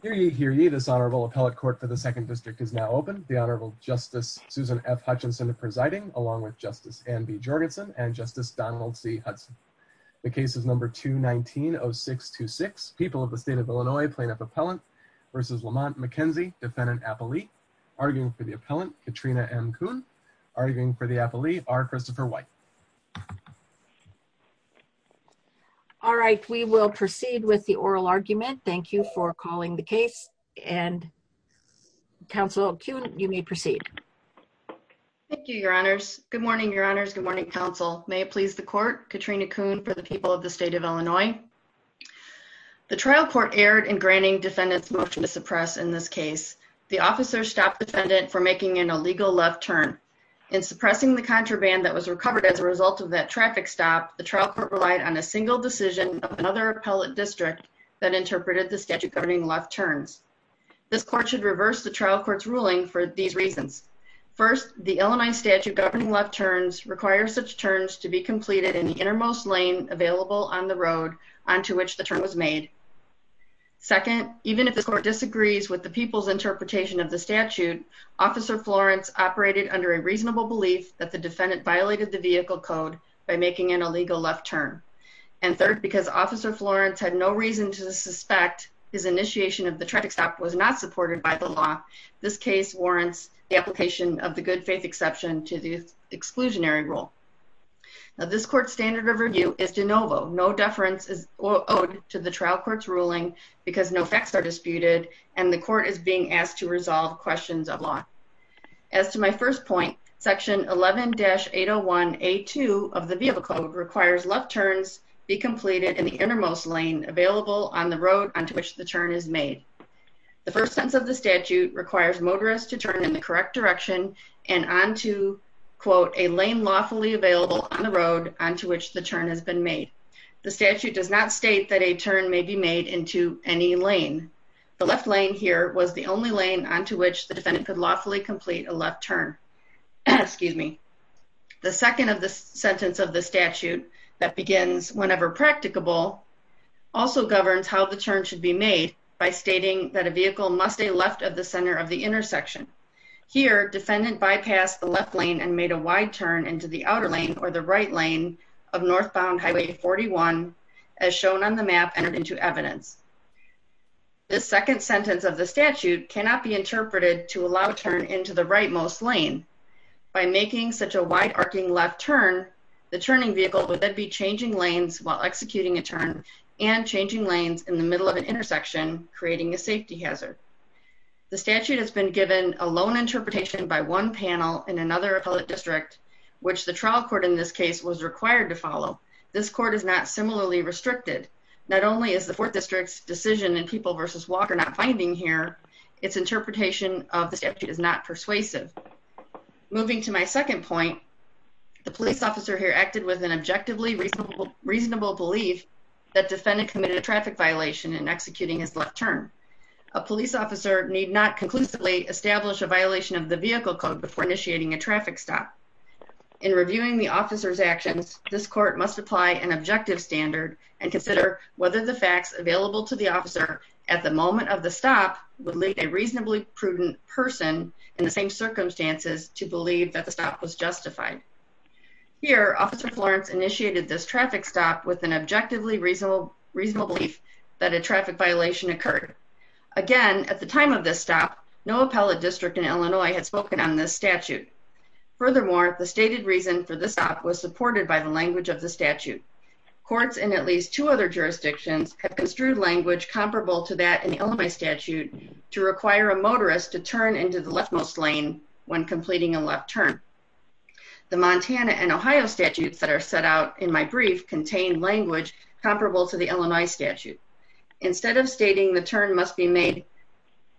v. Lamont McKenzie, Defendant Appellee, arguing for the Appellant, Katrina M. Kuhn, arguing for the Appellee, R. Christopher White. All right, we will proceed with the oral argument. Thank you for calling the case. And, Counsel Kuhn, you may proceed. Thank you, Your Honors. Good morning, Your Honors. Good morning, Counsel. May it please the Court, Katrina Kuhn for the people of the State of Illinois. The trial court erred in granting defendants' motion to suppress in this case. The officer stopped the defendant for making an illegal left turn. In suppressing the contraband that was recovered as a result of that traffic stop, the trial court relied on a single decision of another appellate district that interpreted the statute governing left turns. This court should reverse the trial court's ruling for these reasons. First, the Illinois statute governing left turns requires such turns to be completed in the innermost lane available on the road onto which the turn was made. Second, even if the court disagrees with the people's interpretation of the statute, Officer Florence operated under a reasonable belief that the defendant violated the vehicle code by making an illegal left turn. And third, because Officer Florence had no reason to suspect his initiation of the traffic stop was not supported by the law, this case warrants the application of the good faith exception to the exclusionary rule. Now, this court's standard of review is de novo. No deference is owed to the trial court's ruling because no facts are disputed and the court is being asked to resolve questions of law. As to my first point, section 11-801A2 of the vehicle code requires left turns be completed in the innermost lane available on the road onto which the turn is made. The first sentence of the statute requires motorists to turn in the correct direction and onto, quote, a lane lawfully available on the road onto which the turn has been made. The statute does not state that a turn may be made into any lane. The left lane here was the only lane onto which the defendant could lawfully complete a left turn. Excuse me. The second sentence of the statute that begins whenever practicable also governs how the turn should be made by stating that a vehicle must stay left of the center of the intersection. Here, defendant bypassed the left lane and made a wide turn into the outer lane or the right lane of northbound Highway 41 as shown on the map entered into evidence. This second sentence of the statute cannot be interpreted to allow a turn into the rightmost lane. By making such a wide-arcing left turn, the turning vehicle would then be changing lanes while executing a turn and changing lanes in the middle of an intersection, creating a safety hazard. The statute has been given a lone interpretation by one panel in another appellate district which the trial court in this case was required to follow. This court is not similarly restricted. Not only is the 4th District's decision in People v. Walker not binding here, its interpretation of the statute is not persuasive. Moving to my second point, the police officer here acted with an objectively reasonable belief that defendant committed a traffic violation in executing his left turn. A police officer need not conclusively establish a violation of the vehicle code before initiating a traffic stop. In reviewing the officer's actions, this court must apply an objective standard and consider whether the facts available to the officer at the moment of the stop would lead a reasonably prudent person in the same circumstances to believe that the stop was justified. Here, Officer Florence initiated this traffic stop with an objectively reasonable belief that a traffic violation occurred. Again, at the time of this stop, no appellate district in Illinois had spoken on this statute. Furthermore, the stated reason for this stop was supported by the language of the statute. Courts in at least two other jurisdictions have construed language comparable to that in the Illinois statute to require a motorist to turn into the leftmost lane when completing a left turn. The Montana and Ohio statutes that are set out in my brief contain language comparable to the Illinois statute. Instead of stating the turn must be made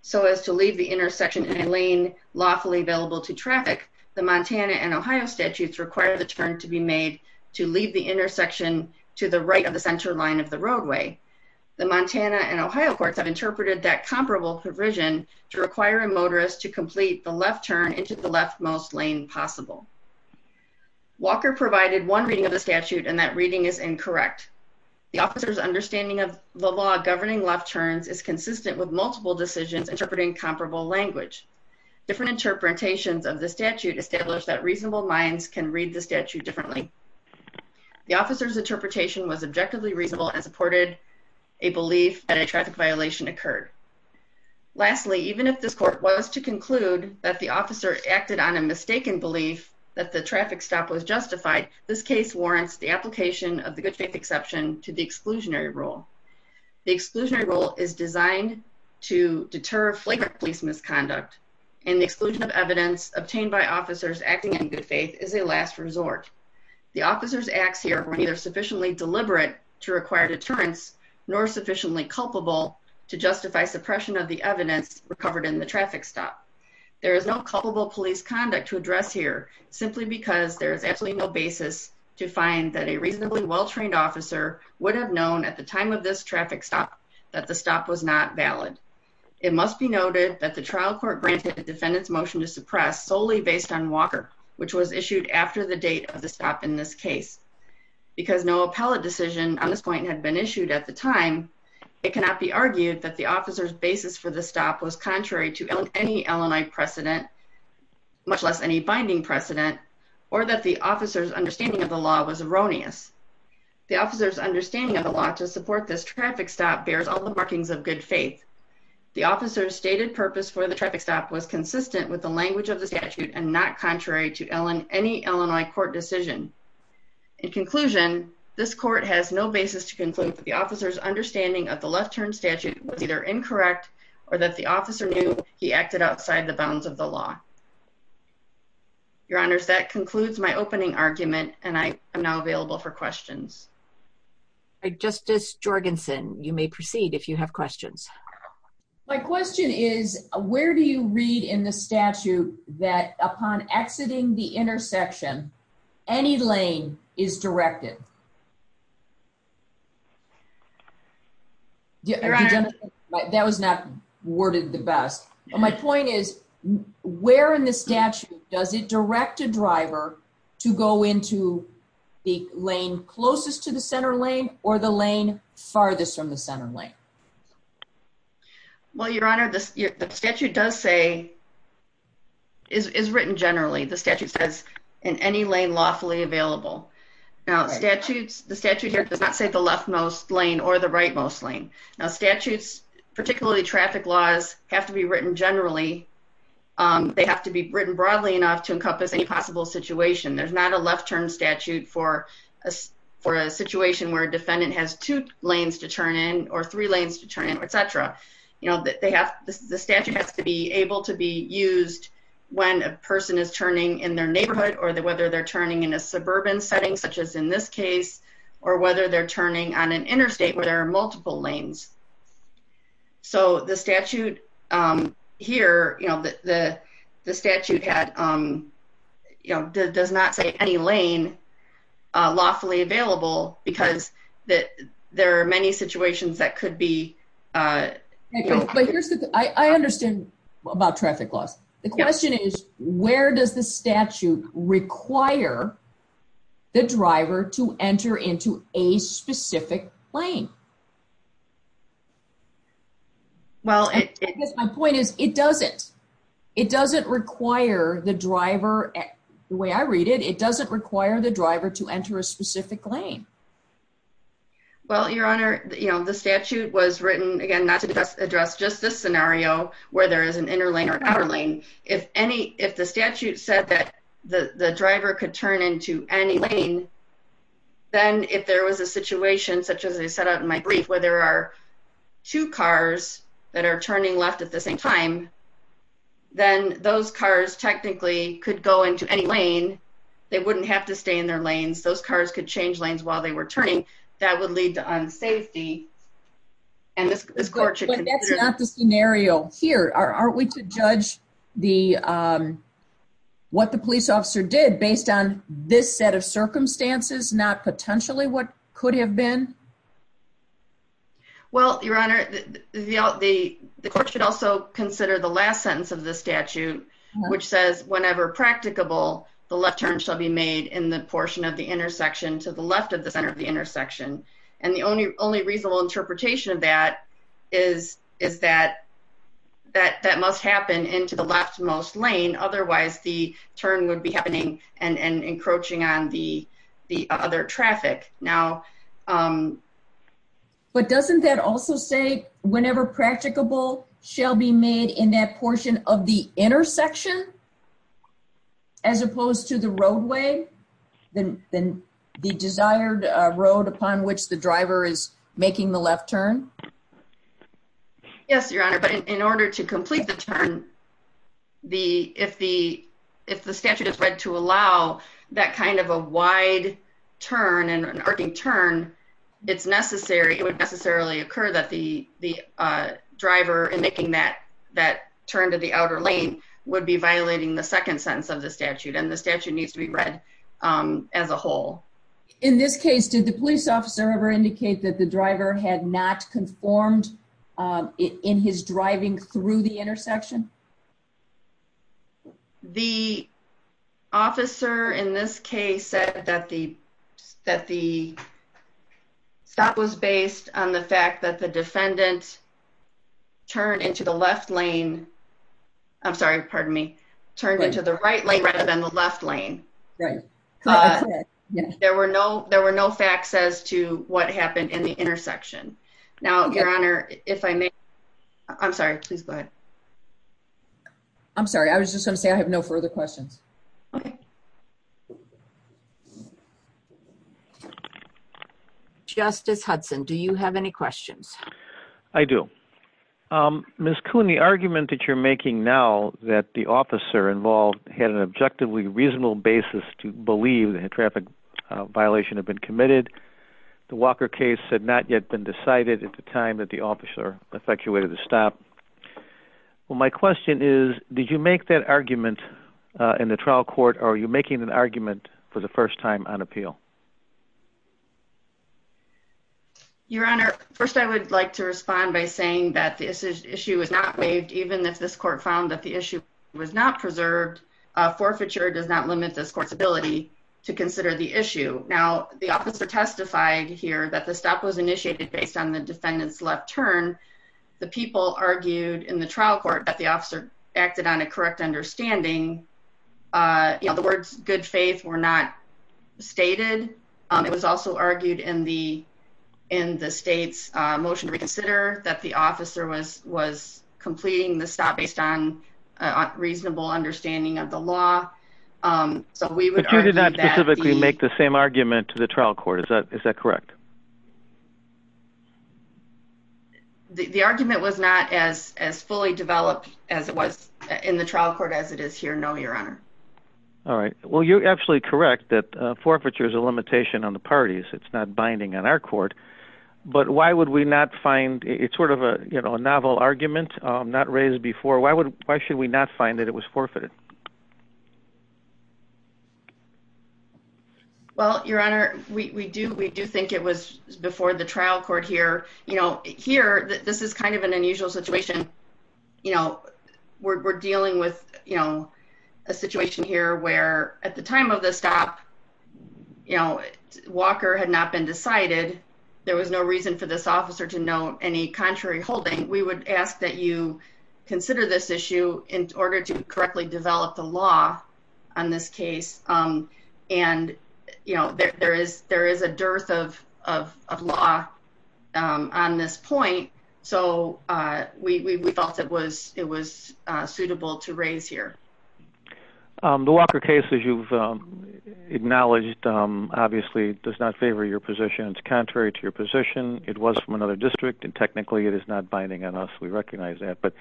so as to leave the intersection in a lane lawfully available to traffic, the Montana and Ohio statutes require the turn to be made to leave the intersection to the right of the center line of the roadway. The Montana and Ohio courts have interpreted that comparable provision to require a motorist to complete the left turn into the leftmost lane possible. Walker provided one reading of the statute, and that reading is incorrect. The officer's understanding of the law governing left turns is consistent with multiple decisions interpreting comparable language. Different interpretations of the statute establish that reasonable minds can read the statute differently. The officer's interpretation was objectively reasonable and supported a belief that a traffic violation occurred. Lastly, even if this court was to conclude that the officer acted on a mistaken belief that the traffic stop was justified, this case warrants the application of the good faith exception to the exclusionary rule. The exclusionary rule is designed to deter flagrant police misconduct, and the exclusion of evidence obtained by officers acting in good faith is a last resort. The officers' acts here were neither sufficiently deliberate to require deterrence nor sufficiently culpable to justify suppression of the evidence recovered in the traffic stop. There is no culpable police conduct to address here simply because there is absolutely no basis to find that a reasonably well-trained officer would have known at the time of this traffic stop that the stop was not valid. It must be noted that the trial court granted the defendant's motion to suppress solely based on Walker, which was issued after the date of the stop in this case. Because no appellate decision on this point had been issued at the time, it cannot be argued that the officer's basis for the stop was contrary to any Illinois precedent, much less any binding precedent, or that the officer's understanding of the law was erroneous. The officer's understanding of the law to support this traffic stop bears all the markings of good faith. The officer's stated purpose for the traffic stop was consistent with the language of the statute and not contrary to any Illinois court decision. In conclusion, this court has no basis to conclude that the officer's understanding of the left turn statute was either incorrect or that the officer knew he acted outside the bounds of the law. Your Honors, that concludes my opening argument, and I am now available for questions. Justice Jorgensen, you may proceed if you have questions. My question is, where do you read in the statute that upon exiting the intersection, any lane is directed? That was not worded the best. My point is, where in the statute does it direct a driver to go into the lane closest to the center lane or the lane farthest from the center lane? Well, Your Honor, the statute does say, is written generally. The statute says, in any lane lawfully available. Now, the statute here does not say the leftmost lane or the rightmost lane. Now, statutes, particularly traffic laws, have to be written generally. They have to be written broadly enough to encompass any possible situation. There's not a left turn statute for a situation where a defendant has two lanes to turn in or three lanes to turn in, et cetera. The statute has to be able to be used when a person is turning in their neighborhood or whether they're turning in a suburban setting, such as in this case, or whether they're turning on an interstate where there are multiple lanes. So the statute here, the statute does not say any lane lawfully available because there are many situations that could be... I understand about traffic laws. The question is, where does the statute require the driver to enter into a specific lane? My point is, it doesn't. It doesn't require the driver, the way I read it, it doesn't require the driver to enter a specific lane. Well, Your Honor, the statute was written, again, not to address just this scenario, where there is an inner lane or an outer lane. If the statute said that the driver could turn into any lane, then if there was a situation, such as I set out in my brief, where there are two cars that are turning left at the same time, then those cars technically could go into any lane. They wouldn't have to stay in their lanes. Those cars could change lanes while they were turning. That would lead to unsafety, and this court should consider... But that's not the scenario here. Aren't we to judge what the police officer did based on this set of circumstances, not potentially what could have been? Well, Your Honor, the court should also consider the last sentence of the statute, which says, whenever practicable, the left turn shall be made in the portion of the intersection to the left of the center of the intersection. And the only reasonable interpretation of that is that that must happen into the leftmost lane, otherwise the turn would be happening and encroaching on the other traffic. But doesn't that also say, whenever practicable, shall be made in that portion of the intersection as opposed to the roadway, the desired road upon which the driver is making the left turn? Yes, Your Honor, but in order to complete the turn, if the statute is read to allow that kind of a wide turn and an arcing turn, it's necessary, it would necessarily occur that the driver in making that turn to the outer lane would be violating the second sentence of the statute, and the statute needs to be read as a whole. In this case, did the police officer ever indicate that the driver had not conformed in his driving through the intersection? The officer in this case said that the stop was based on the fact that the defendant turned into the left lane, I'm sorry, pardon me, turned into the right lane rather than the left lane. There were no facts as to what happened in the intersection. Now, Your Honor, if I may, I'm sorry, please go ahead. I'm sorry, I was just going to say I have no further questions. Justice Hudson, do you have any questions? I do. Ms. Coon, the argument that you're making now that the officer involved had an objectively reasonable basis to believe that a traffic violation had been committed, the Walker case had not yet been decided at the time that the officer effectuated the stop. Well, my question is, did you make that argument in the trial court, or are you making an argument for the first time on appeal? Your Honor, first I would like to respond by saying that the issue was not waived even if this court found that the issue was not preserved. Forfeiture does not limit this court's ability to consider the issue. Now, the officer testified here that the stop was initiated based on the defendant's left turn. The people argued in the trial court that the officer acted on a correct understanding. You know, the words good faith were not stated. It was also argued in the state's motion to reconsider that the officer was completing the stop based on a reasonable understanding of the law. But you did not specifically make the same argument to the trial court. Is that correct? The argument was not as fully developed as it was in the trial court as it is here, no, Your Honor. All right. Well, you're absolutely correct that forfeiture is a limitation on the parties. It's not binding on our court, but why would we not find, it's sort of a novel argument not raised before, why should we not find that it was forfeited? Well, Your Honor, we do. We do think it was before the trial court here. You know, here, this is kind of an unusual situation. You know, we're dealing with, you know, a situation here where at the time of the stop, you know, Walker had not been decided. There was no reason for this officer to know any contrary holding. We would ask that you consider this issue in order to correctly develop the law on this case. And, you know, there is a dearth of law on this point. So we felt it was suitable to raise here. The Walker case, as you've acknowledged, obviously does not favor your position. It's contrary to your position. It was from another district and technically it is not binding on us. We recognize that. But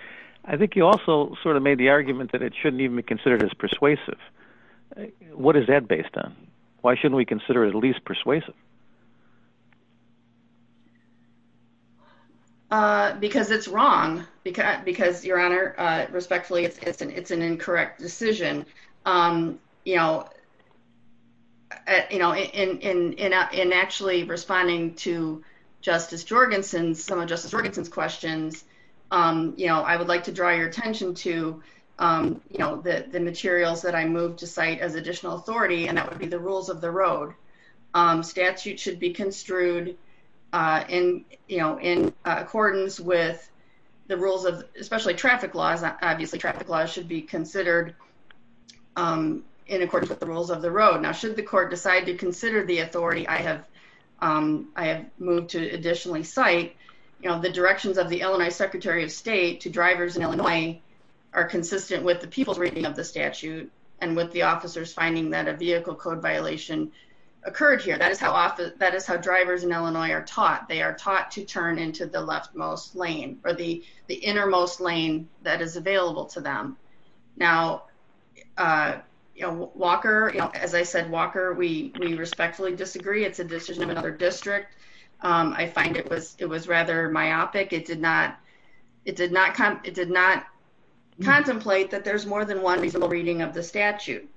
I think you also sort of made the argument that it shouldn't even be considered as persuasive. What is that based on? Why shouldn't we consider it at least persuasive? Because it's wrong. Because, Your Honor, respectfully, it's an incorrect decision. You know, in actually responding to Justice Jorgensen, some of Justice Jorgensen's questions, you know, I would like to draw your attention to, you know, the materials that I moved to cite as additional authority, and that would be the rules of the road. Statute should be construed in, you know, in accordance with the rules of especially traffic laws. Obviously traffic laws should be considered in accordance with the rules of the road. Now, should the court decide to consider the authority I have, I have moved to additionally cite, you know, the directions of the Illinois Secretary of State to drivers in Illinois are consistent with the people's reading of the statute and with the officers finding that a vehicle code violation occurred here. That is how often that is how drivers in Illinois are taught. They are taught to turn into the leftmost lane or the innermost lane that is available to them. Now, Walker, as I said, Walker, we respectfully disagree. It's a decision of another district. I find it was, it was rather myopic. It did not, it did not come. It did not contemplate that there's more than one reasonable reading of the statute.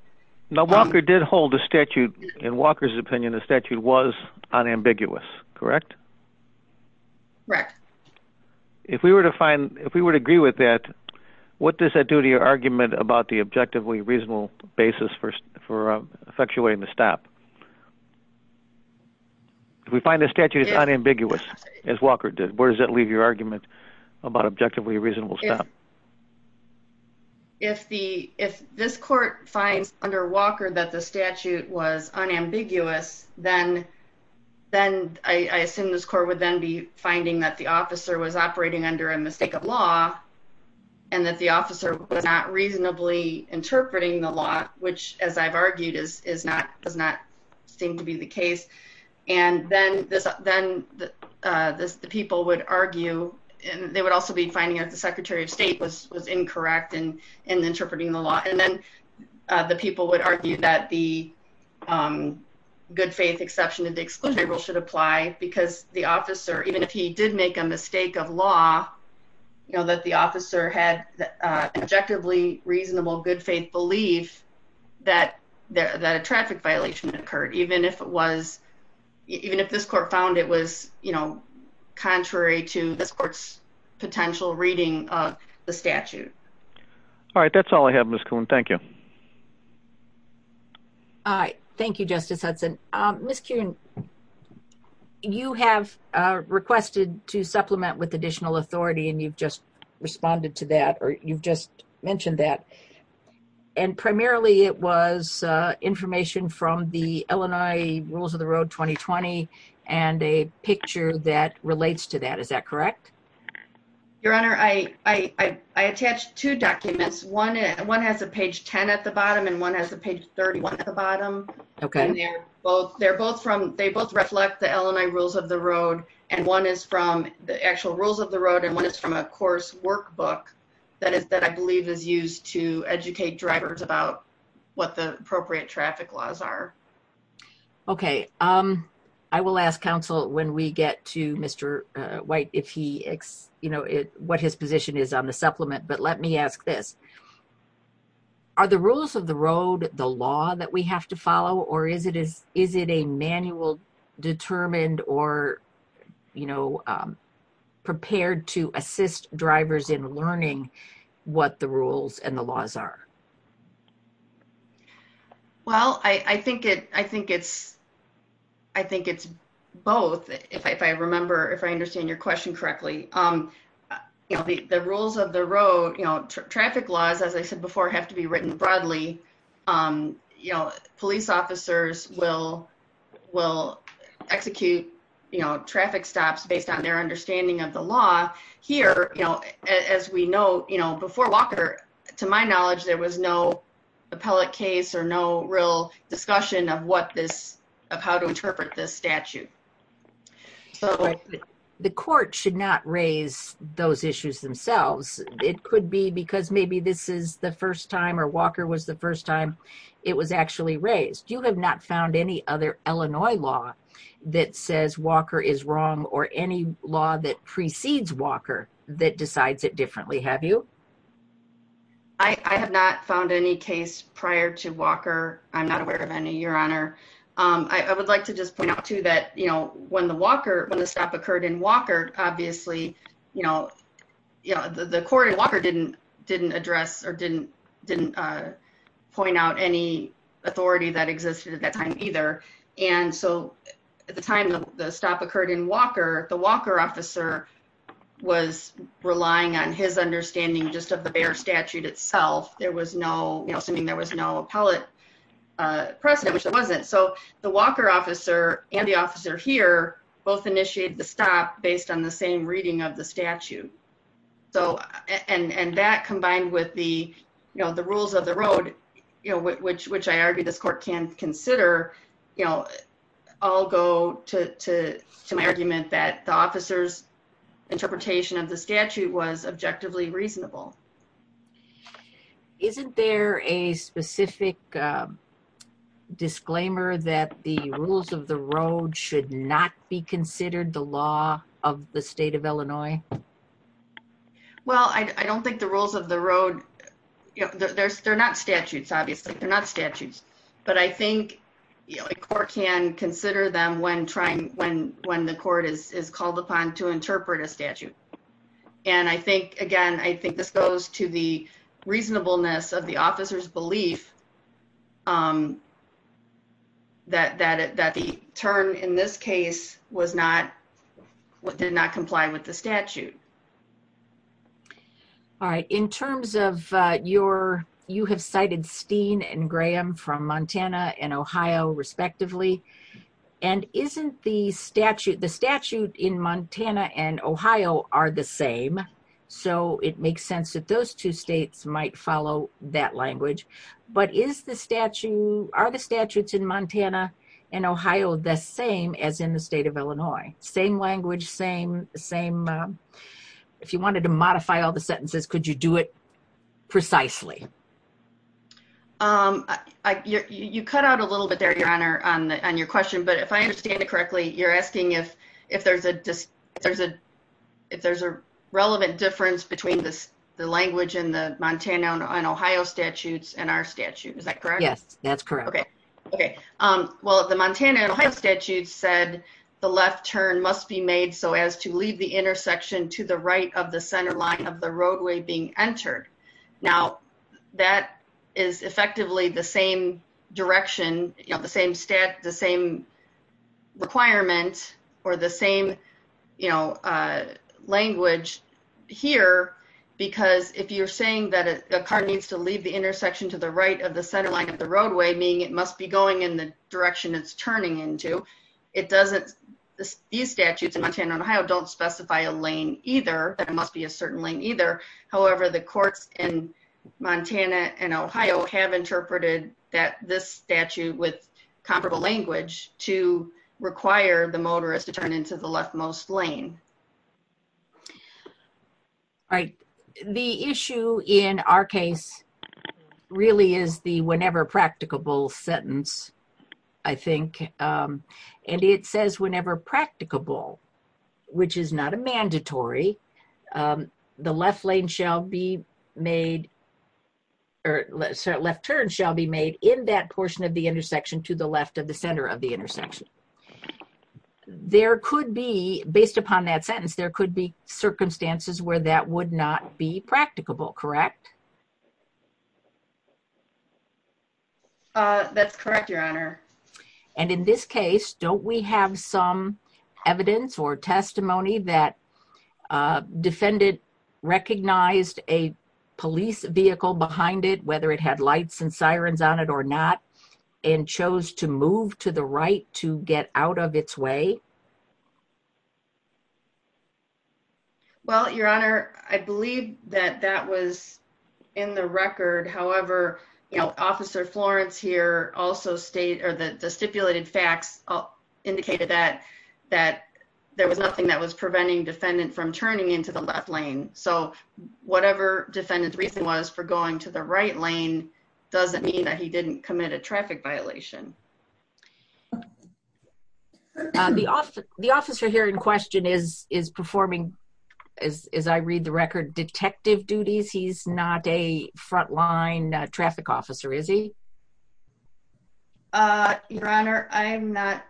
Now Walker did hold a statute in Walker's opinion. The statute was unambiguous, correct? Correct. If we were to find, if we were to agree with that, what does that do to your argument about the objectively reasonable basis for, for effectuating the stop? If we find the statute is unambiguous as Walker did, where does that leave your argument about objectively reasonable stuff? If the, if this court finds under Walker that the statute was unambiguous, then, then I assume this court would then be finding that the officer was operating under a mistake of law and that the officer was not reasonably interpreting the law, which as I've argued is, is not, does not seem to be the case. And then this, then, uh, this, the people would argue and they would also be finding out the secretary of state was, was incorrect in, in interpreting the law. And then, uh, the people would argue that the, um, good faith exception to the exclusionary rule should apply because the officer, even if he did make a mistake of law, you know, that the officer had, uh, objectively reasonable, good faith belief that there, that a traffic violation occurred, even if it was, even if this court found it was, you know, contrary to this court's potential reading of the statute. All right. That's all I have. Ms. Kuhn. Thank you. All right. Thank you, Justice Hudson. Um, Ms. Kuhn, you have requested to supplement with additional authority and you've just mentioned that. And primarily it was, uh, information from the Illinois rules of the road, 2020, and a picture that relates to that. Is that correct? Your honor. I, I, I, I attached two documents. One, one has a page 10 at the bottom and one has a page 31 at the bottom. Okay. They're both, they're both from, they both reflect the Illinois rules of the road. And one is from the actual rules of the road. And one is from a course workbook that is, that I believe is used to educate drivers about what the appropriate traffic laws are. Okay. Um, I will ask counsel when we get to Mr. White, if he, you know what his position is on the supplement, but let me ask this, are the rules of the road, the law that we have to follow, or is it, is it a manual determined or, you know, prepared to assist drivers in learning what the rules and the laws are? Well, I think it, I think it's, I think it's both. If I, if I remember, if I understand your question correctly, um, you know, the, the rules of the road, you know, traffic laws, as I said before, have to be written broadly. Um, you know, police officers will, will execute, you know, traffic stops based on their understanding of the law here. You know, as we know, you know, before Walker, to my knowledge, there was no appellate case or no real discussion of what this, of how to interpret this statute. The court should not raise those issues themselves. It could be because maybe this is the first time or Walker was the first time it was actually raised. You have not found any other Illinois law that says Walker is wrong or any law that precedes Walker that decides it differently. Have you? I have not found any case prior to Walker. I'm not aware of any, your honor. Um, I would like to just point out too, that, you know, when the Walker, when the stop occurred in Walker, obviously, you know, you know, the court in Walker didn't, didn't address or didn't, didn't, uh, point out any authority that existed at that time either. And so at the time the stop occurred in Walker, the Walker officer was relying on his understanding just of the bare statute itself. There was no, you know, something, there was no appellate precedent, which it wasn't. So the Walker officer and the officer here both initiated the stop based on the same reading of the statute. So, and, and that combined with the, you know, the rules of the road, you know, which, which I argue this court can consider, you know, I'll go to my argument that the officer's interpretation of the statute was objectively reasonable. Isn't there a specific disclaimer that the rules of the road should not be considered the law of the state of Illinois? Well, I, I don't think the rules of the road, you know, there's, they're not statutes, obviously they're not statutes, but I think a court can consider them when trying, when, when the court is called upon to interpret a statute. And I think, again, I think this goes to the reasonableness of the officer's belief, um, that, that, that the turn in this case was not, did not comply with the statute. All right. In terms of, uh, your, you have cited Steen and Graham from Montana and Ohio respectively. And isn't the statute, the statute in Montana and Ohio are the same. So it makes sense that those two States might follow that language, but is the statute, are the statutes in Montana and Ohio the same as in the state of Illinois? Same language, same, same, uh, if you wanted to modify all the sentences, could you do it precisely? Um, I, you, you cut out a little bit there, Your Honor, on the, on your question, but if I understand it correctly, you're asking if, if there's a, there's a, if there's a relevant difference between this, the language in the Montana and Ohio statutes and our statute, is that correct? Yes, that's correct. Okay. Okay. Um, well, the Montana and Ohio statute said the left turn must be made. So as to leave the intersection to the right of the center line of the roadway being entered. Now that is effectively the same direction, you know, the same stat, the same requirement or the same, you know, uh, language here, because if you're saying that a car needs to leave the intersection to the right of the center line of the roadway, meaning it must be going in the direction it's turning into, it doesn't, these statutes in Montana and Ohio don't specify a lane either. There must be a certain lane either. However, the courts in Montana and Ohio have interpreted that this statute with comparable language to require the motorist to turn into the leftmost lane. All right. The issue in our case really is the, whenever practicable sentence, I think. Um, and it says whenever practicable, which is not a mandatory, um, the left lane shall be made, or left turn shall be made in that portion of the intersection to the left of the center of the intersection. There could be, based upon that sentence, there could be circumstances where that would not be practicable, correct? Uh, that's correct, your honor. And in this case, don't we have some evidence or testimony that, uh, defendant recognized a police vehicle behind it, whether it had lights and sirens on it or not, and chose to move to the right to get out of its way. Well, your honor, I believe that that was in the record. However, you know, officer Florence here also state, or the stipulated facts indicated that, that there was nothing that was preventing defendant from turning into the left lane. So whatever defendant's reason was for going to the right lane, doesn't mean that he didn't commit a traffic violation. The officer here in question is, is performing as, as I read the record detective duties. He's not a frontline traffic officer, is he? Uh, your honor, I'm not,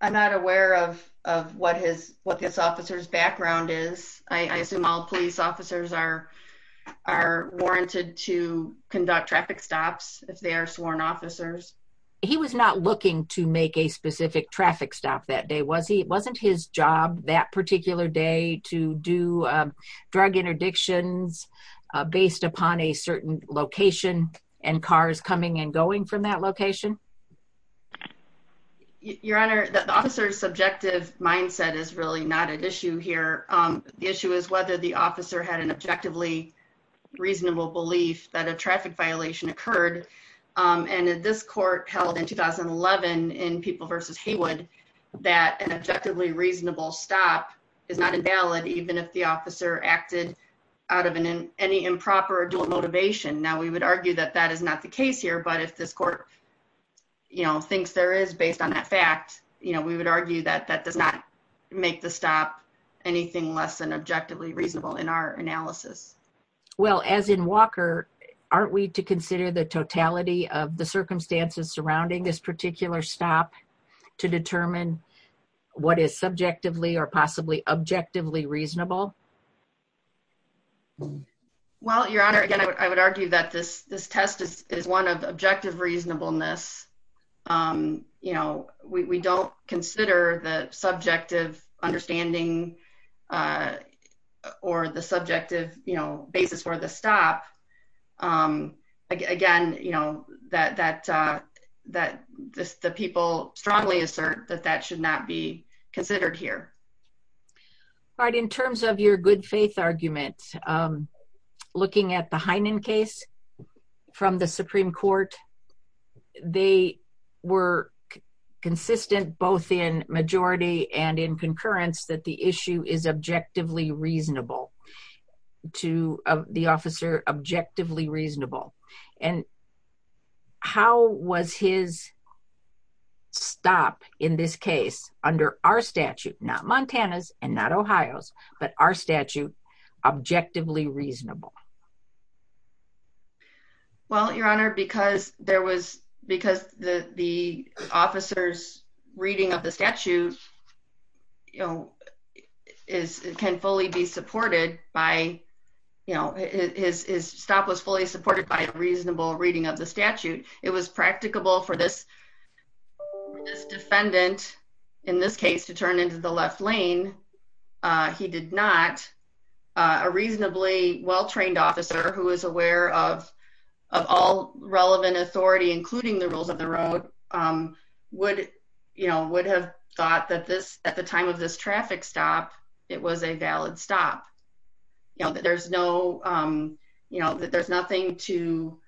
I'm not aware of, of what his, what this officer's background is. I assume all police officers are, are warranted to conduct traffic stops if they are sworn officers. He was not looking to make a specific traffic stop that day. Was he, it wasn't his job that particular day to do, um, traffic interdictions, uh, based upon a certain location and cars coming and going from that location. Your honor, the officer's subjective mindset is really not an issue here. Um, the issue is whether the officer had an objectively reasonable belief that a traffic violation occurred. Um, and this court held in 2011 in people versus Haywood, that an objectively reasonable stop is not invalid. Even if the officer acted out of an, any improper dual motivation. Now we would argue that that is not the case here, but if this court, you know, thinks there is based on that fact, you know, we would argue that that does not make the stop anything less than objectively reasonable in our analysis. Well, as in Walker, aren't we to consider the totality of the circumstances surrounding this particular stop to determine what is subjectively or possibly objectively reasonable? Well, your honor, again, I would argue that this, this test is one of the objective reasonableness. Um, you know, we, we don't consider the subjective understanding, uh, or the subjective basis where the stop, um, again, you know, that, that, uh, that the people strongly assert that that should not be considered here. All right. In terms of your good faith arguments, um, looking at the Heinen case from the Supreme court, they were consistent both in majority and in concurrence that the issue is objectively reasonable to the officer, objectively reasonable. And how was his stop in this case under our statute, not Montana's and not Ohio's, but our statute objectively reasonable? Well, your honor, because there was, because the officers reading of the statute, you know, is it can fully be supported by, you know, his stop was fully supported by a reasonable reading of the statute. It was practicable for this, this defendant in this case, to turn into the left lane. Uh, he did not, uh, a reasonably well-trained officer who is aware of, of all relevant authority, including the rules of the road, um, would, you know, would have thought that this, at the time of this traffic stop, it was a valid stop, you know, that there's no, um, you know, that there's nothing to,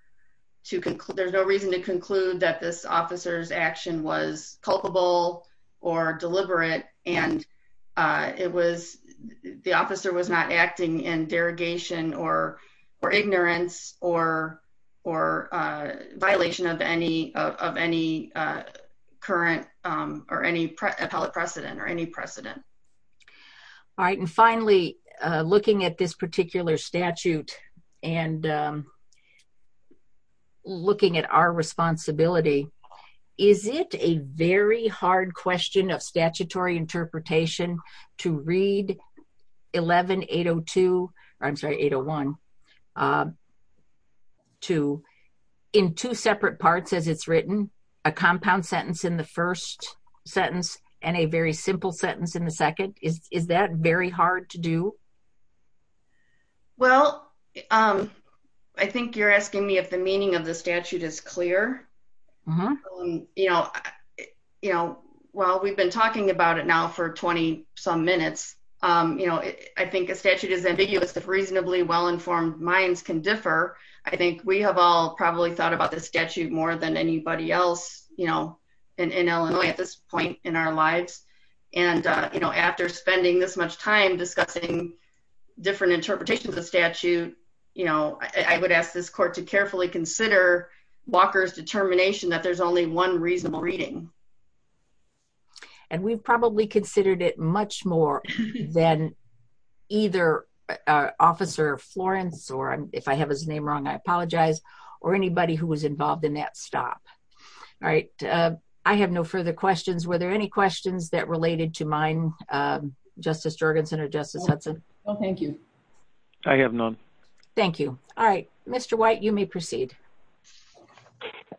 to conclude. There's no reason to conclude that this officer's action was culpable or deliberate. And, uh, it was, the officer was not acting in derogation or, or ignorance or, or, uh, violation of any, of any, uh, current, um, or any appellate precedent or any precedent. All right. And finally, uh, looking at this particular statute and, um, looking at our responsibility, is it a very hard question of statutory interpretation to read 11802? I'm sorry, 801, um, to in two separate parts as it's written a compound sentence in the first sentence and a very simple sentence in the second is, is that very hard to do? Well, um, I think you're asking me if the meaning of the statute is clear, you know, you know, while we've been talking about it now for 20 some minutes, um, you know, I think a statute is ambiguous if reasonably well-informed minds can differ. I think we have all probably thought about this statute more than anybody else, you know, in, in Illinois at this point in our lives. And, uh, you know, after spending this much time discussing different interpretations of statute, you know, I would ask this court to carefully consider Walker's determination that there's only one reasonable reading. And we've probably considered it much more than either, uh, officer Florence, or if I have his name wrong, I apologize, or anybody who was involved in that stop. All right. Uh, I have no further questions. Were there any questions that related to mine, um, justice Jorgensen or justice Hudson? Oh, thank you. I have none. Thank you. All right, Mr. White, you may proceed.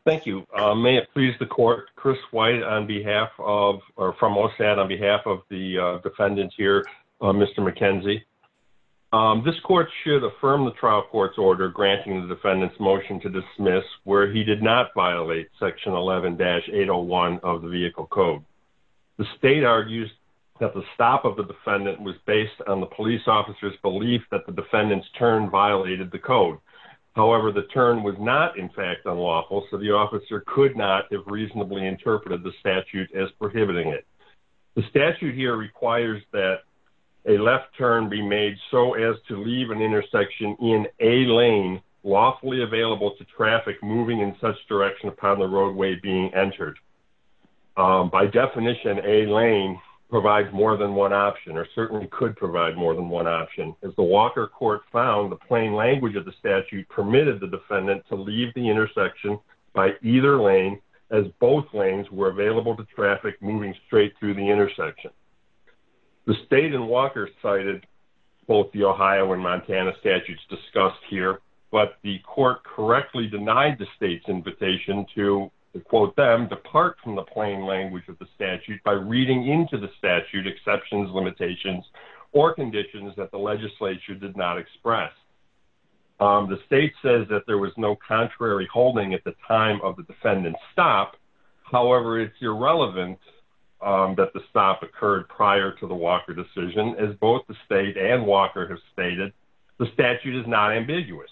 Thank you. Um, may it please the court, Chris White on behalf of, or from all set on behalf of the defendant here, uh, Mr. McKenzie, um, this court should affirm the trial court's order, granting the defendant's motion to dismiss where he did not violate section 11 dash eight Oh one of the vehicle code. The state argues that the stop of the defendant was based on the police officer's belief that the defendant's turn violated the code. However, the turn was not in fact unlawful. So the officer could not have reasonably interpreted the statute as prohibiting it. The statute here requires that a left turn be made so as to leave an intersection in a lane lawfully available to traffic moving in such direction upon the roadway being entered. Um, by definition a lane provides more than one option or certainly could provide more than one option. As the Walker court found the plain language of the statute permitted the defendant to leave the intersection by either lane as both lanes were available to traffic moving straight through the intersection. The state and Walker cited both the Ohio and Montana statutes discussed here, but the court correctly denied the state's invitation to the quote them depart from the plain language of the statute by reading into the statute exceptions limitations or conditions that the legislature did not express. Um, the state says that there was no contrary holding at the time of the defendant's stop. However, it's irrelevant, um, that the stop occurred prior to the Walker decision is both the state and Walker has stated the statute is not ambiguous.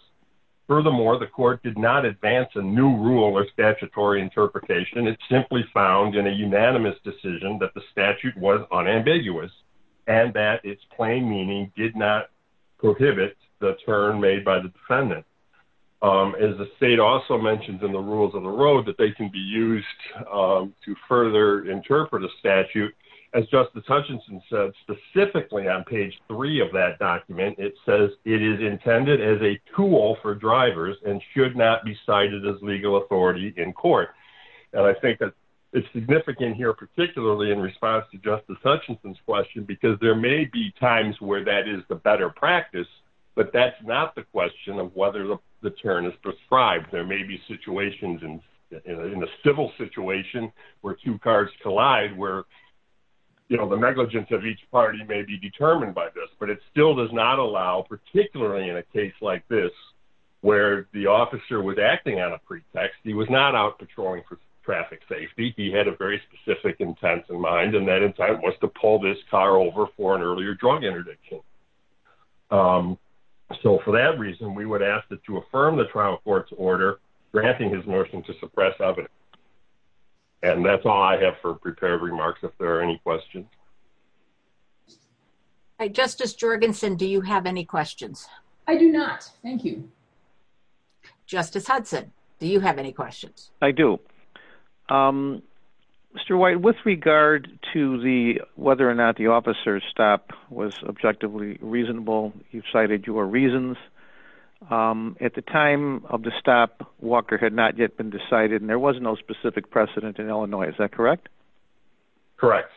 Furthermore, the court did not advance a new rule or statutory interpretation. It's simply found in a unanimous decision that the statute was unambiguous and that it's plain meaning did not prohibit the turn made by the defendant. Um, as the state also mentioned in the rules of the road that they can be used, um, to further interpret a statute. As Justice Hutchinson said specifically on page three of that document, it says it is intended as a tool for drivers and should not be cited as legal authority in court. And I think that it's significant here, particularly in response to Justice Hutchinson's question, because there may be times where that is the better practice, but that's not the question of whether the turn is prescribed. There may be situations in a civil situation where two cards collide, where, you know, the negligence of each party may be determined by this, but it still does not allow, particularly in a case like this, where the officer was acting on a pretext. He was not out patrolling for traffic safety. He had a very specific intent in mind. And that in fact was to pull this car over for an earlier drug interdiction. Um, so for that reason, we would ask that to affirm the trial court's order granting his nursing to suppress evidence. And that's all I have for prepared remarks. If there are any questions, I justice Jorgensen, do you have any questions? I do not. Thank you. Justice Hudson, do you have any questions? I do. Um, Mr. White, with regard to the, whether or not the officer's stop was objectively reasonable, you've cited your reasons. Um, at the time of the stop, Walker had not yet been decided and there was no specific precedent in Illinois. Is that correct? Correct.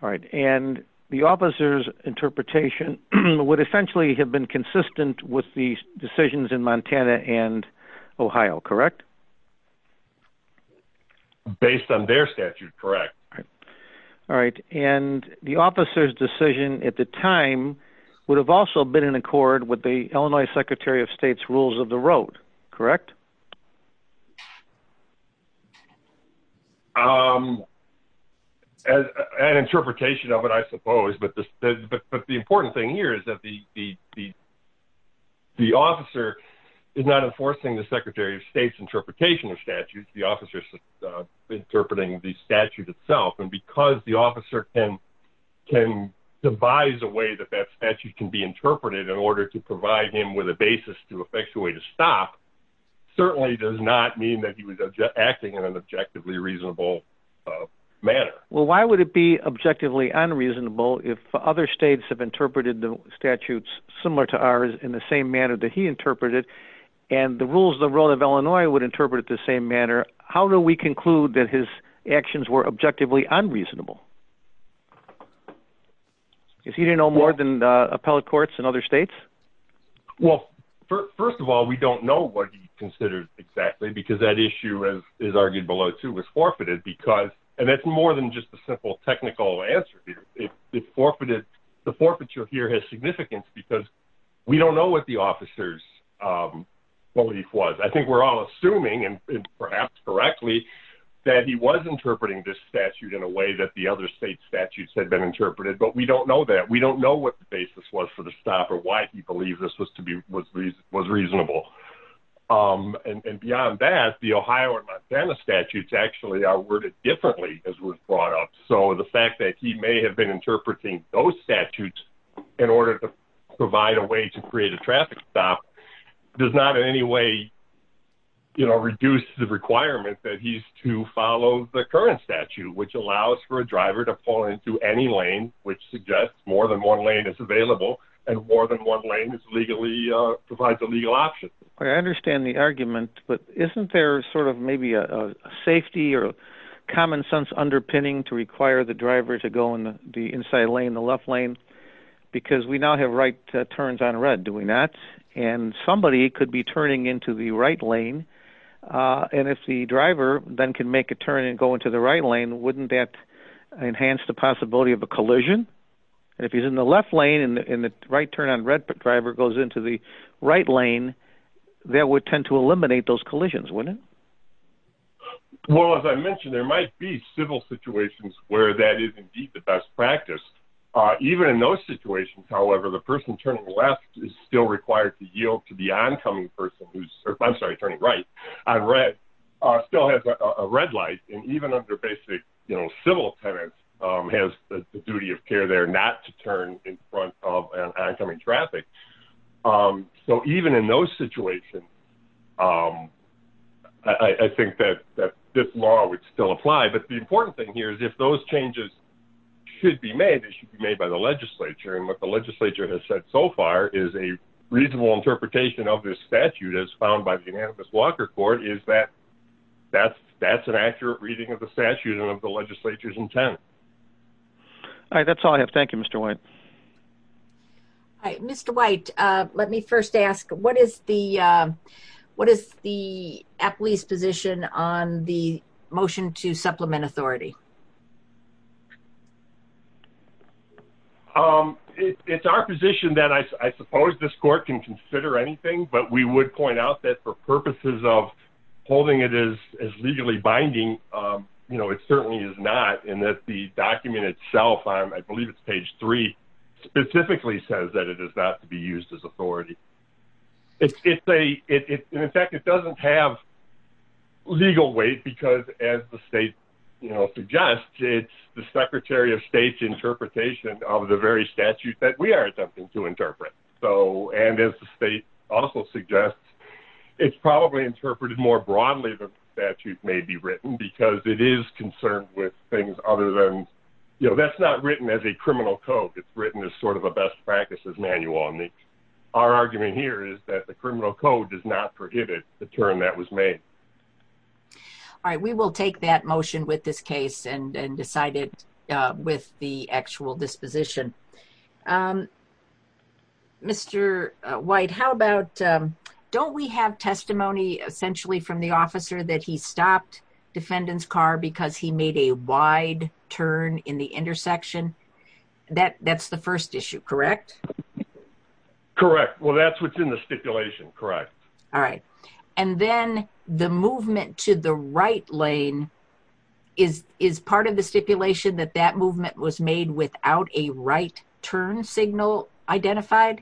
All right. And the officer's interpretation would essentially have been consistent with the decisions in Montana and Ohio. Correct. Based on their statute. Correct. All right. And the officer's decision at the time would have also been in accord with the Illinois secretary of state's rules of the road. Correct. Um, as an interpretation of it, I suppose, but the, but the important thing here is that the, the, the officer is not enforcing the secretary of state's interpretation of statutes, the officer's interpreting the statute itself. And because the officer can, can devise a way that that statute can be interpreted in order to provide him with a basis to effectuate a stop. Certainly does not mean that he was acting in an objectively reasonable manner. Well, why would it be objectively unreasonable? If other States have interpreted the statutes similar to ours in the same manner that he interpreted and the rules of the road of Illinois would interpret it the same manner. How do we conclude that his actions were objectively unreasonable? Is he didn't know more than the appellate courts and other States? Well, first of all, we don't know what he considered exactly, because that issue as is argued below too was forfeited because, and that's more than just a simple technical answer. If it forfeited, the forfeiture here has significance because we don't know what the officer's belief was. I think we're all assuming and perhaps correctly that he was interpreting this statute in a way that the other States statutes had been interpreted, but we don't know that. We don't know what the basis was for the stop or why he believes this was to happen. And in fact, the Ohio and Montana statutes actually are worded differently as we're brought up. So the fact that he may have been interpreting those statutes in order to provide a way to create a traffic stop does not in any way, you know, reduce the requirement that he's to follow the current statute, which allows for a driver to pull into any lane, which suggests more than one lane is available and more than one lane is legally provides a legal option. I understand the argument, but isn't there sort of maybe a safety or common sense underpinning to require the driver to go in the inside lane, the left lane, because we now have right turns on red, do we not? And somebody could be turning into the right lane. And if the driver then can make a turn and go into the right lane, wouldn't that enhance the possibility of a collision? And if he's in the left lane and the right turn on red, if a driver goes into the right lane, that would tend to eliminate those collisions, wouldn't it? Well, as I mentioned, there might be civil situations where that is indeed the best practice. Even in those situations, however, the person turning left is still required to yield to the oncoming person who's, I'm sorry, turning right on red, still has a red light. And even under basic, you know, civil tenants has the duty of care there not to turn in front of an oncoming person. So even in those situations, I think that this law would still apply, but the important thing here is if those changes should be made, it should be made by the legislature. And what the legislature has said so far is a reasonable interpretation of this statute as found by the unanimous Walker court is that that's, that's an accurate reading of the statute and of the legislature's intent. All right. That's all I have. Thank you, Mr. White. Hi, Mr. White. Let me first ask, what is the, what is the at least position on the motion to supplement authority? It's our position that I suppose this court can consider anything, but we would point out that for purposes of holding it as legally binding, you know, it certainly is not in that the document itself, I believe it's page three specifically says that it is not to be used as authority. It's, it's a, it, in fact, it doesn't have legal weight because as the state, you know, suggests it's the secretary of state's interpretation of the very statute that we are attempting to interpret. So, and as the state also suggests it's probably interpreted more broadly, the statute may be written because it is concerned with things other than, you know, that's not written as a criminal code. It's written as sort of a best practices manual on the, our argument here is that the criminal code does not prohibit the term that was made. All right. We will take that motion with this case and decided with the actual disposition. Mr. White, how about, don't we have testimony essentially from the officer that he stopped defendant's car because he made a wide turn in the intersection that that's the first issue, correct? Correct. Well, that's what's in the stipulation. Correct. All right. And then the movement to the right lane is, is part of the stipulation that that movement was made without a right turn signal identified,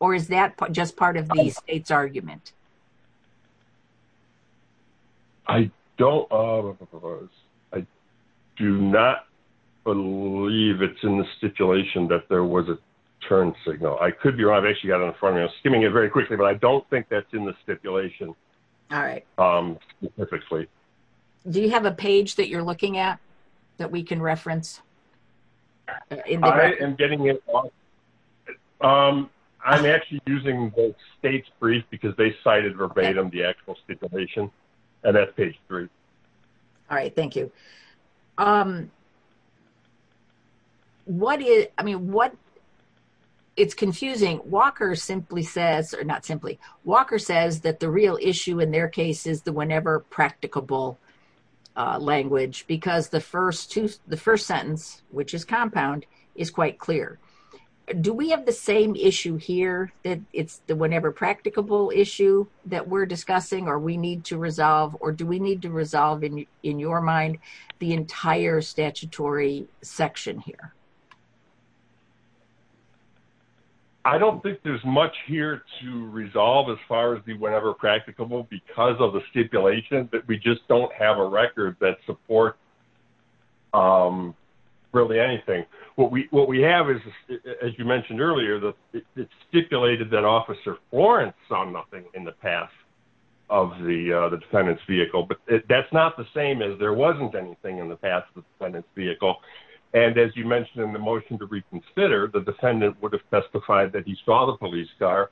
or is that just part of the state's argument? I don't, I do not believe it's in the stipulation that there was a turn signal. I could be wrong. I've actually got it in front of me. I was skimming it very quickly, but I don't think that's in the stipulation. All right. Do you have a page that you're looking at that we can reference? I am getting it. I'm actually using the state's brief because they cited verbatim, the actual stipulation and that's page three. All right. Thank you. What is, I mean, what, it's confusing. Walker simply says, or not simply, Walker says that the real issue in their case is the whenever practicable language, because the first two, the first sentence, which is compound is quite clear. Do we have the same issue here that it's the whenever practicable issue that we're discussing, or we need to resolve, or do we need to resolve in your mind the entire statutory section here? I don't think there's much here to resolve as far as the whenever practicable because of the stipulation, but we just don't have a record that support really anything. What we, what we have is, as you mentioned earlier, the stipulated that officer Florence saw nothing in the past of the, the defendant's vehicle, but that's not the same as there wasn't anything in the past, the defendant's vehicle. And as you mentioned in the motion to reconsider, the defendant would have testified that he saw the police car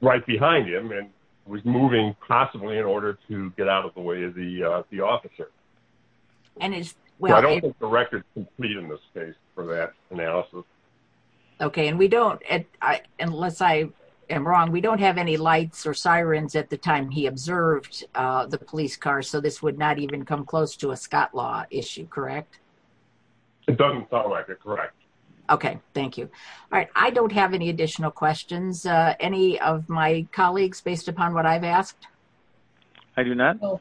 right behind him and was moving possibly in order to get out of the way of the, the officer. I don't think the record is complete in this case for that analysis. Okay. And we don't, unless I am wrong, we don't have any lights or sirens at the time he observed the police car. So this would not even come close to a Scott law issue. Correct. It doesn't sound like it. Correct. Okay. Thank you. All right. I don't have any additional questions. Any of my colleagues based upon what I've asked. I do not. All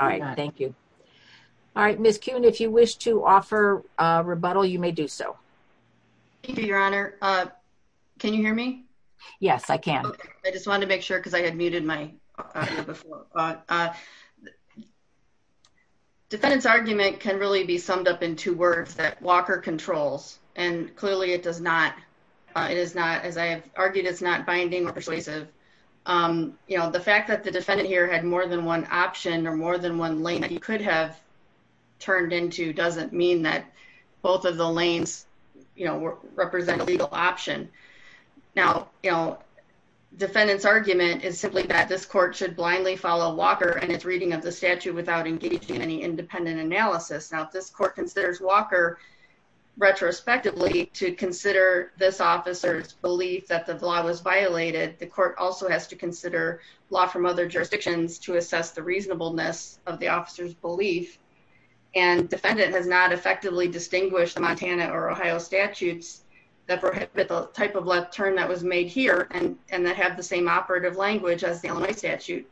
right. Thank you. All right. Miss Kuhn, if you wish to offer a rebuttal, you may do so. Thank you, your honor. Can you hear me? Yes, I can. I just wanted to make sure, cause I had muted my, defendant's argument can really be summed up in two words that Walker controls. And clearly it does not. It is not, as I have argued it's not binding or persuasive. You know, the fact that the defendant here had more than one option or more than one lane that you could have turned into doesn't mean that both of the lanes, you know, represent a legal option. Now, you know, defendant's argument is simply that this court should blindly follow Walker and it's reading of the statute without engaging in any independent analysis. Now, if this court considers Walker retrospectively to consider this officer's belief that the law was violated, the court also has to consider law from other jurisdictions to assess the reasonableness of the officer's belief. And defendant has not effectively distinguished the Montana or Ohio statutes that prohibit the type of left turn that was made here and, and that have the same operative language as the Illinois statute.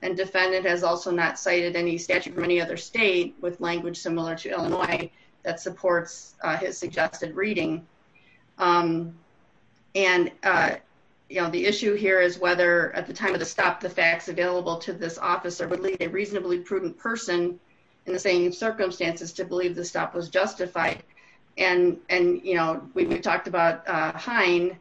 And defendant has also not cited any statute from any other state with language similar to Illinois that supports his suggested reading. And you know, the issue here is whether at the time of the stop, the facts available to this officer would lead a reasonably prudent person in the same circumstances to believe the stop was justified. And, and, you know, we've talked about Hein,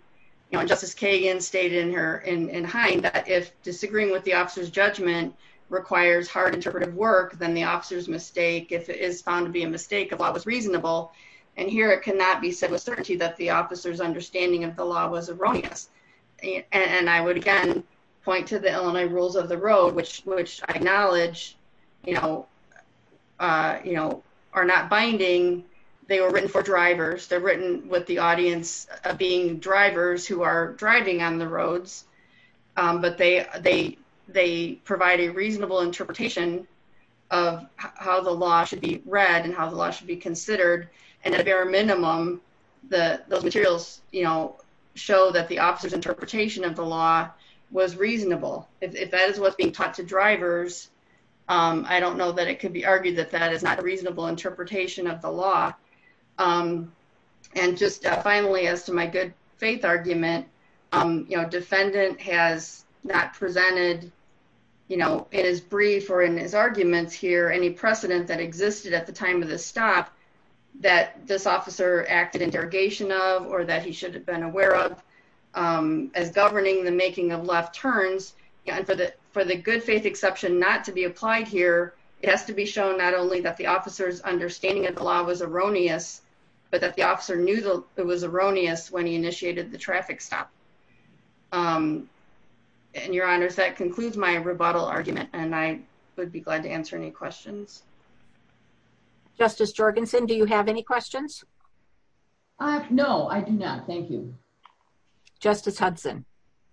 you know, justice Kagan stated in her in, in hind that if disagreeing with the officer's judgment requires hard interpretive work, then the officer's mistake, if it is found to be a mistake of law was reasonable. And here it cannot be said with certainty that the officer's understanding of the law was erroneous. And I would again, you know, are not binding. They were written for drivers. They're written with the audience being drivers who are driving on the roads. But they, they, they provide a reasonable interpretation of how the law should be read and how the law should be considered. And at a bare minimum, the, those materials, you know, show that the officer's interpretation of the law was reasonable. If that is what's being taught to drivers. I don't know that it could be argued that that is not a reasonable interpretation of the law. And just finally, as to my good faith argument, you know, defendant has not presented, you know, in his brief or in his arguments here, any precedent that existed at the time of the stop that this officer acted in derogation of, or that he should have been aware of as governing the making of left turns. Yeah. And for the, for the good faith exception, not to be applied here, it has to be shown not only that the officer's understanding of the law was erroneous, but that the officer knew that it was erroneous when he initiated the traffic stop. And your honors, that concludes my rebuttal argument. And I would be glad to answer any questions. Justice Jorgensen. Do you have any questions? No, I do not. Thank you. Justice Hudson.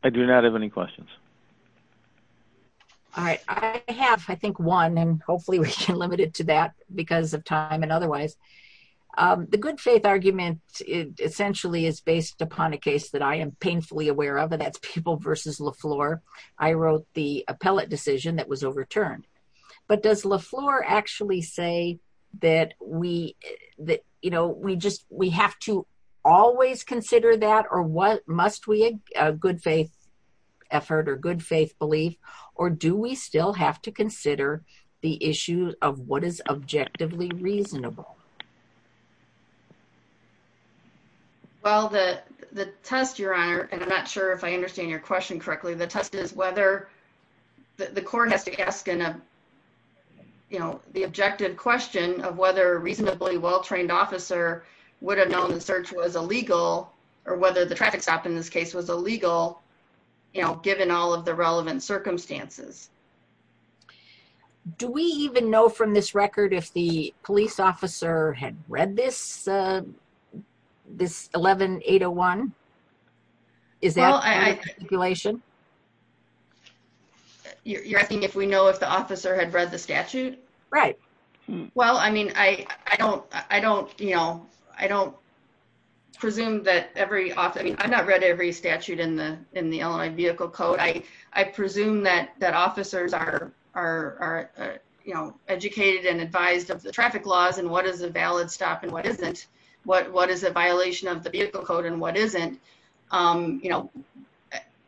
I do not have any questions. All right. I have, I think one, and hopefully we can limit it to that because of time and otherwise the good faith argument. It essentially is based upon a case that I am painfully aware of, and that's people versus LaFleur. I wrote the appellate decision that was overturned, but does LaFleur actually say that we, that, you know, we just, we have to always consider that or what must we a good faith effort or good faith belief, or do we still have to consider the issue of what is objectively reasonable? Well, the, the test your honor, and I'm not sure if I understand your question correctly, the test is whether the court has to ask in a, you know, the objective question of whether a reasonably well-trained officer would have known the search was illegal or whether the traffic stop in this case was illegal, you know, given all of the relevant circumstances. Do we even know from this record, if the police officer had read this, this 11 8 0 1 is that. I, you're asking if we know if the officer had read the statute. Right. Well, I mean, I, I don't, I don't, you know, I don't presume that every officer, I mean, I've not read every statute in the, in the Illinois vehicle code. I, I presume that that officers are, are, are, you know, educated and advised of the traffic laws and what is a valid stop and what isn't, what, what is a violation of the vehicle code and what isn't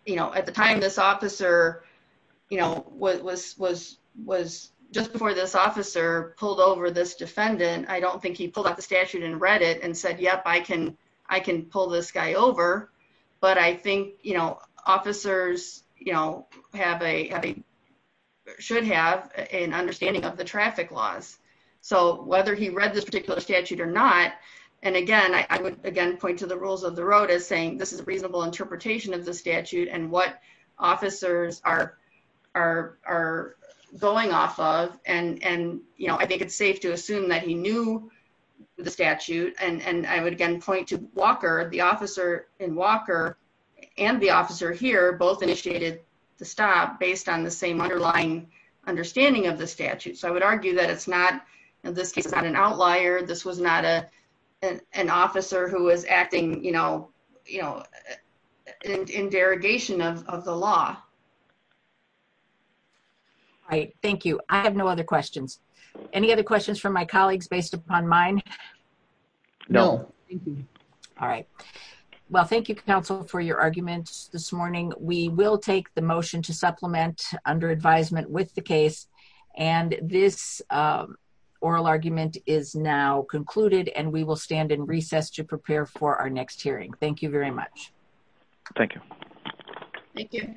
you know, at the time this officer, you know, what was, was, was, just before this officer pulled over this defendant, I don't think he pulled out the statute and read it and said, yep, I can, I can pull this guy over, but I think, you know, officers, you know, have a, have a, should have an understanding of the traffic laws. So whether he read this particular statute or not, and again, I, I would again point to the rules of the road as saying, this is a reasonable interpretation of the statute and what officers are, are, are going off of. And, and, you know, I think it's safe to assume that he knew the statute. And, and I would again point to Walker, the officer in Walker and the officer here, both initiated the stop based on the same underlying understanding of the statute. So I would argue that it's not, in this case, it's not an outlier. This was not a, an officer who was acting, you know, you know, in derogation of the law. All right. Thank you. I have no other questions. Any other questions from my colleagues based upon mine? No. All right. Well, thank you counsel for your arguments this morning. We will take the motion to supplement under advisement with the case. And this oral argument is now concluded and we will stand in recess to prepare for our next hearing. Thank you very much. Thank you.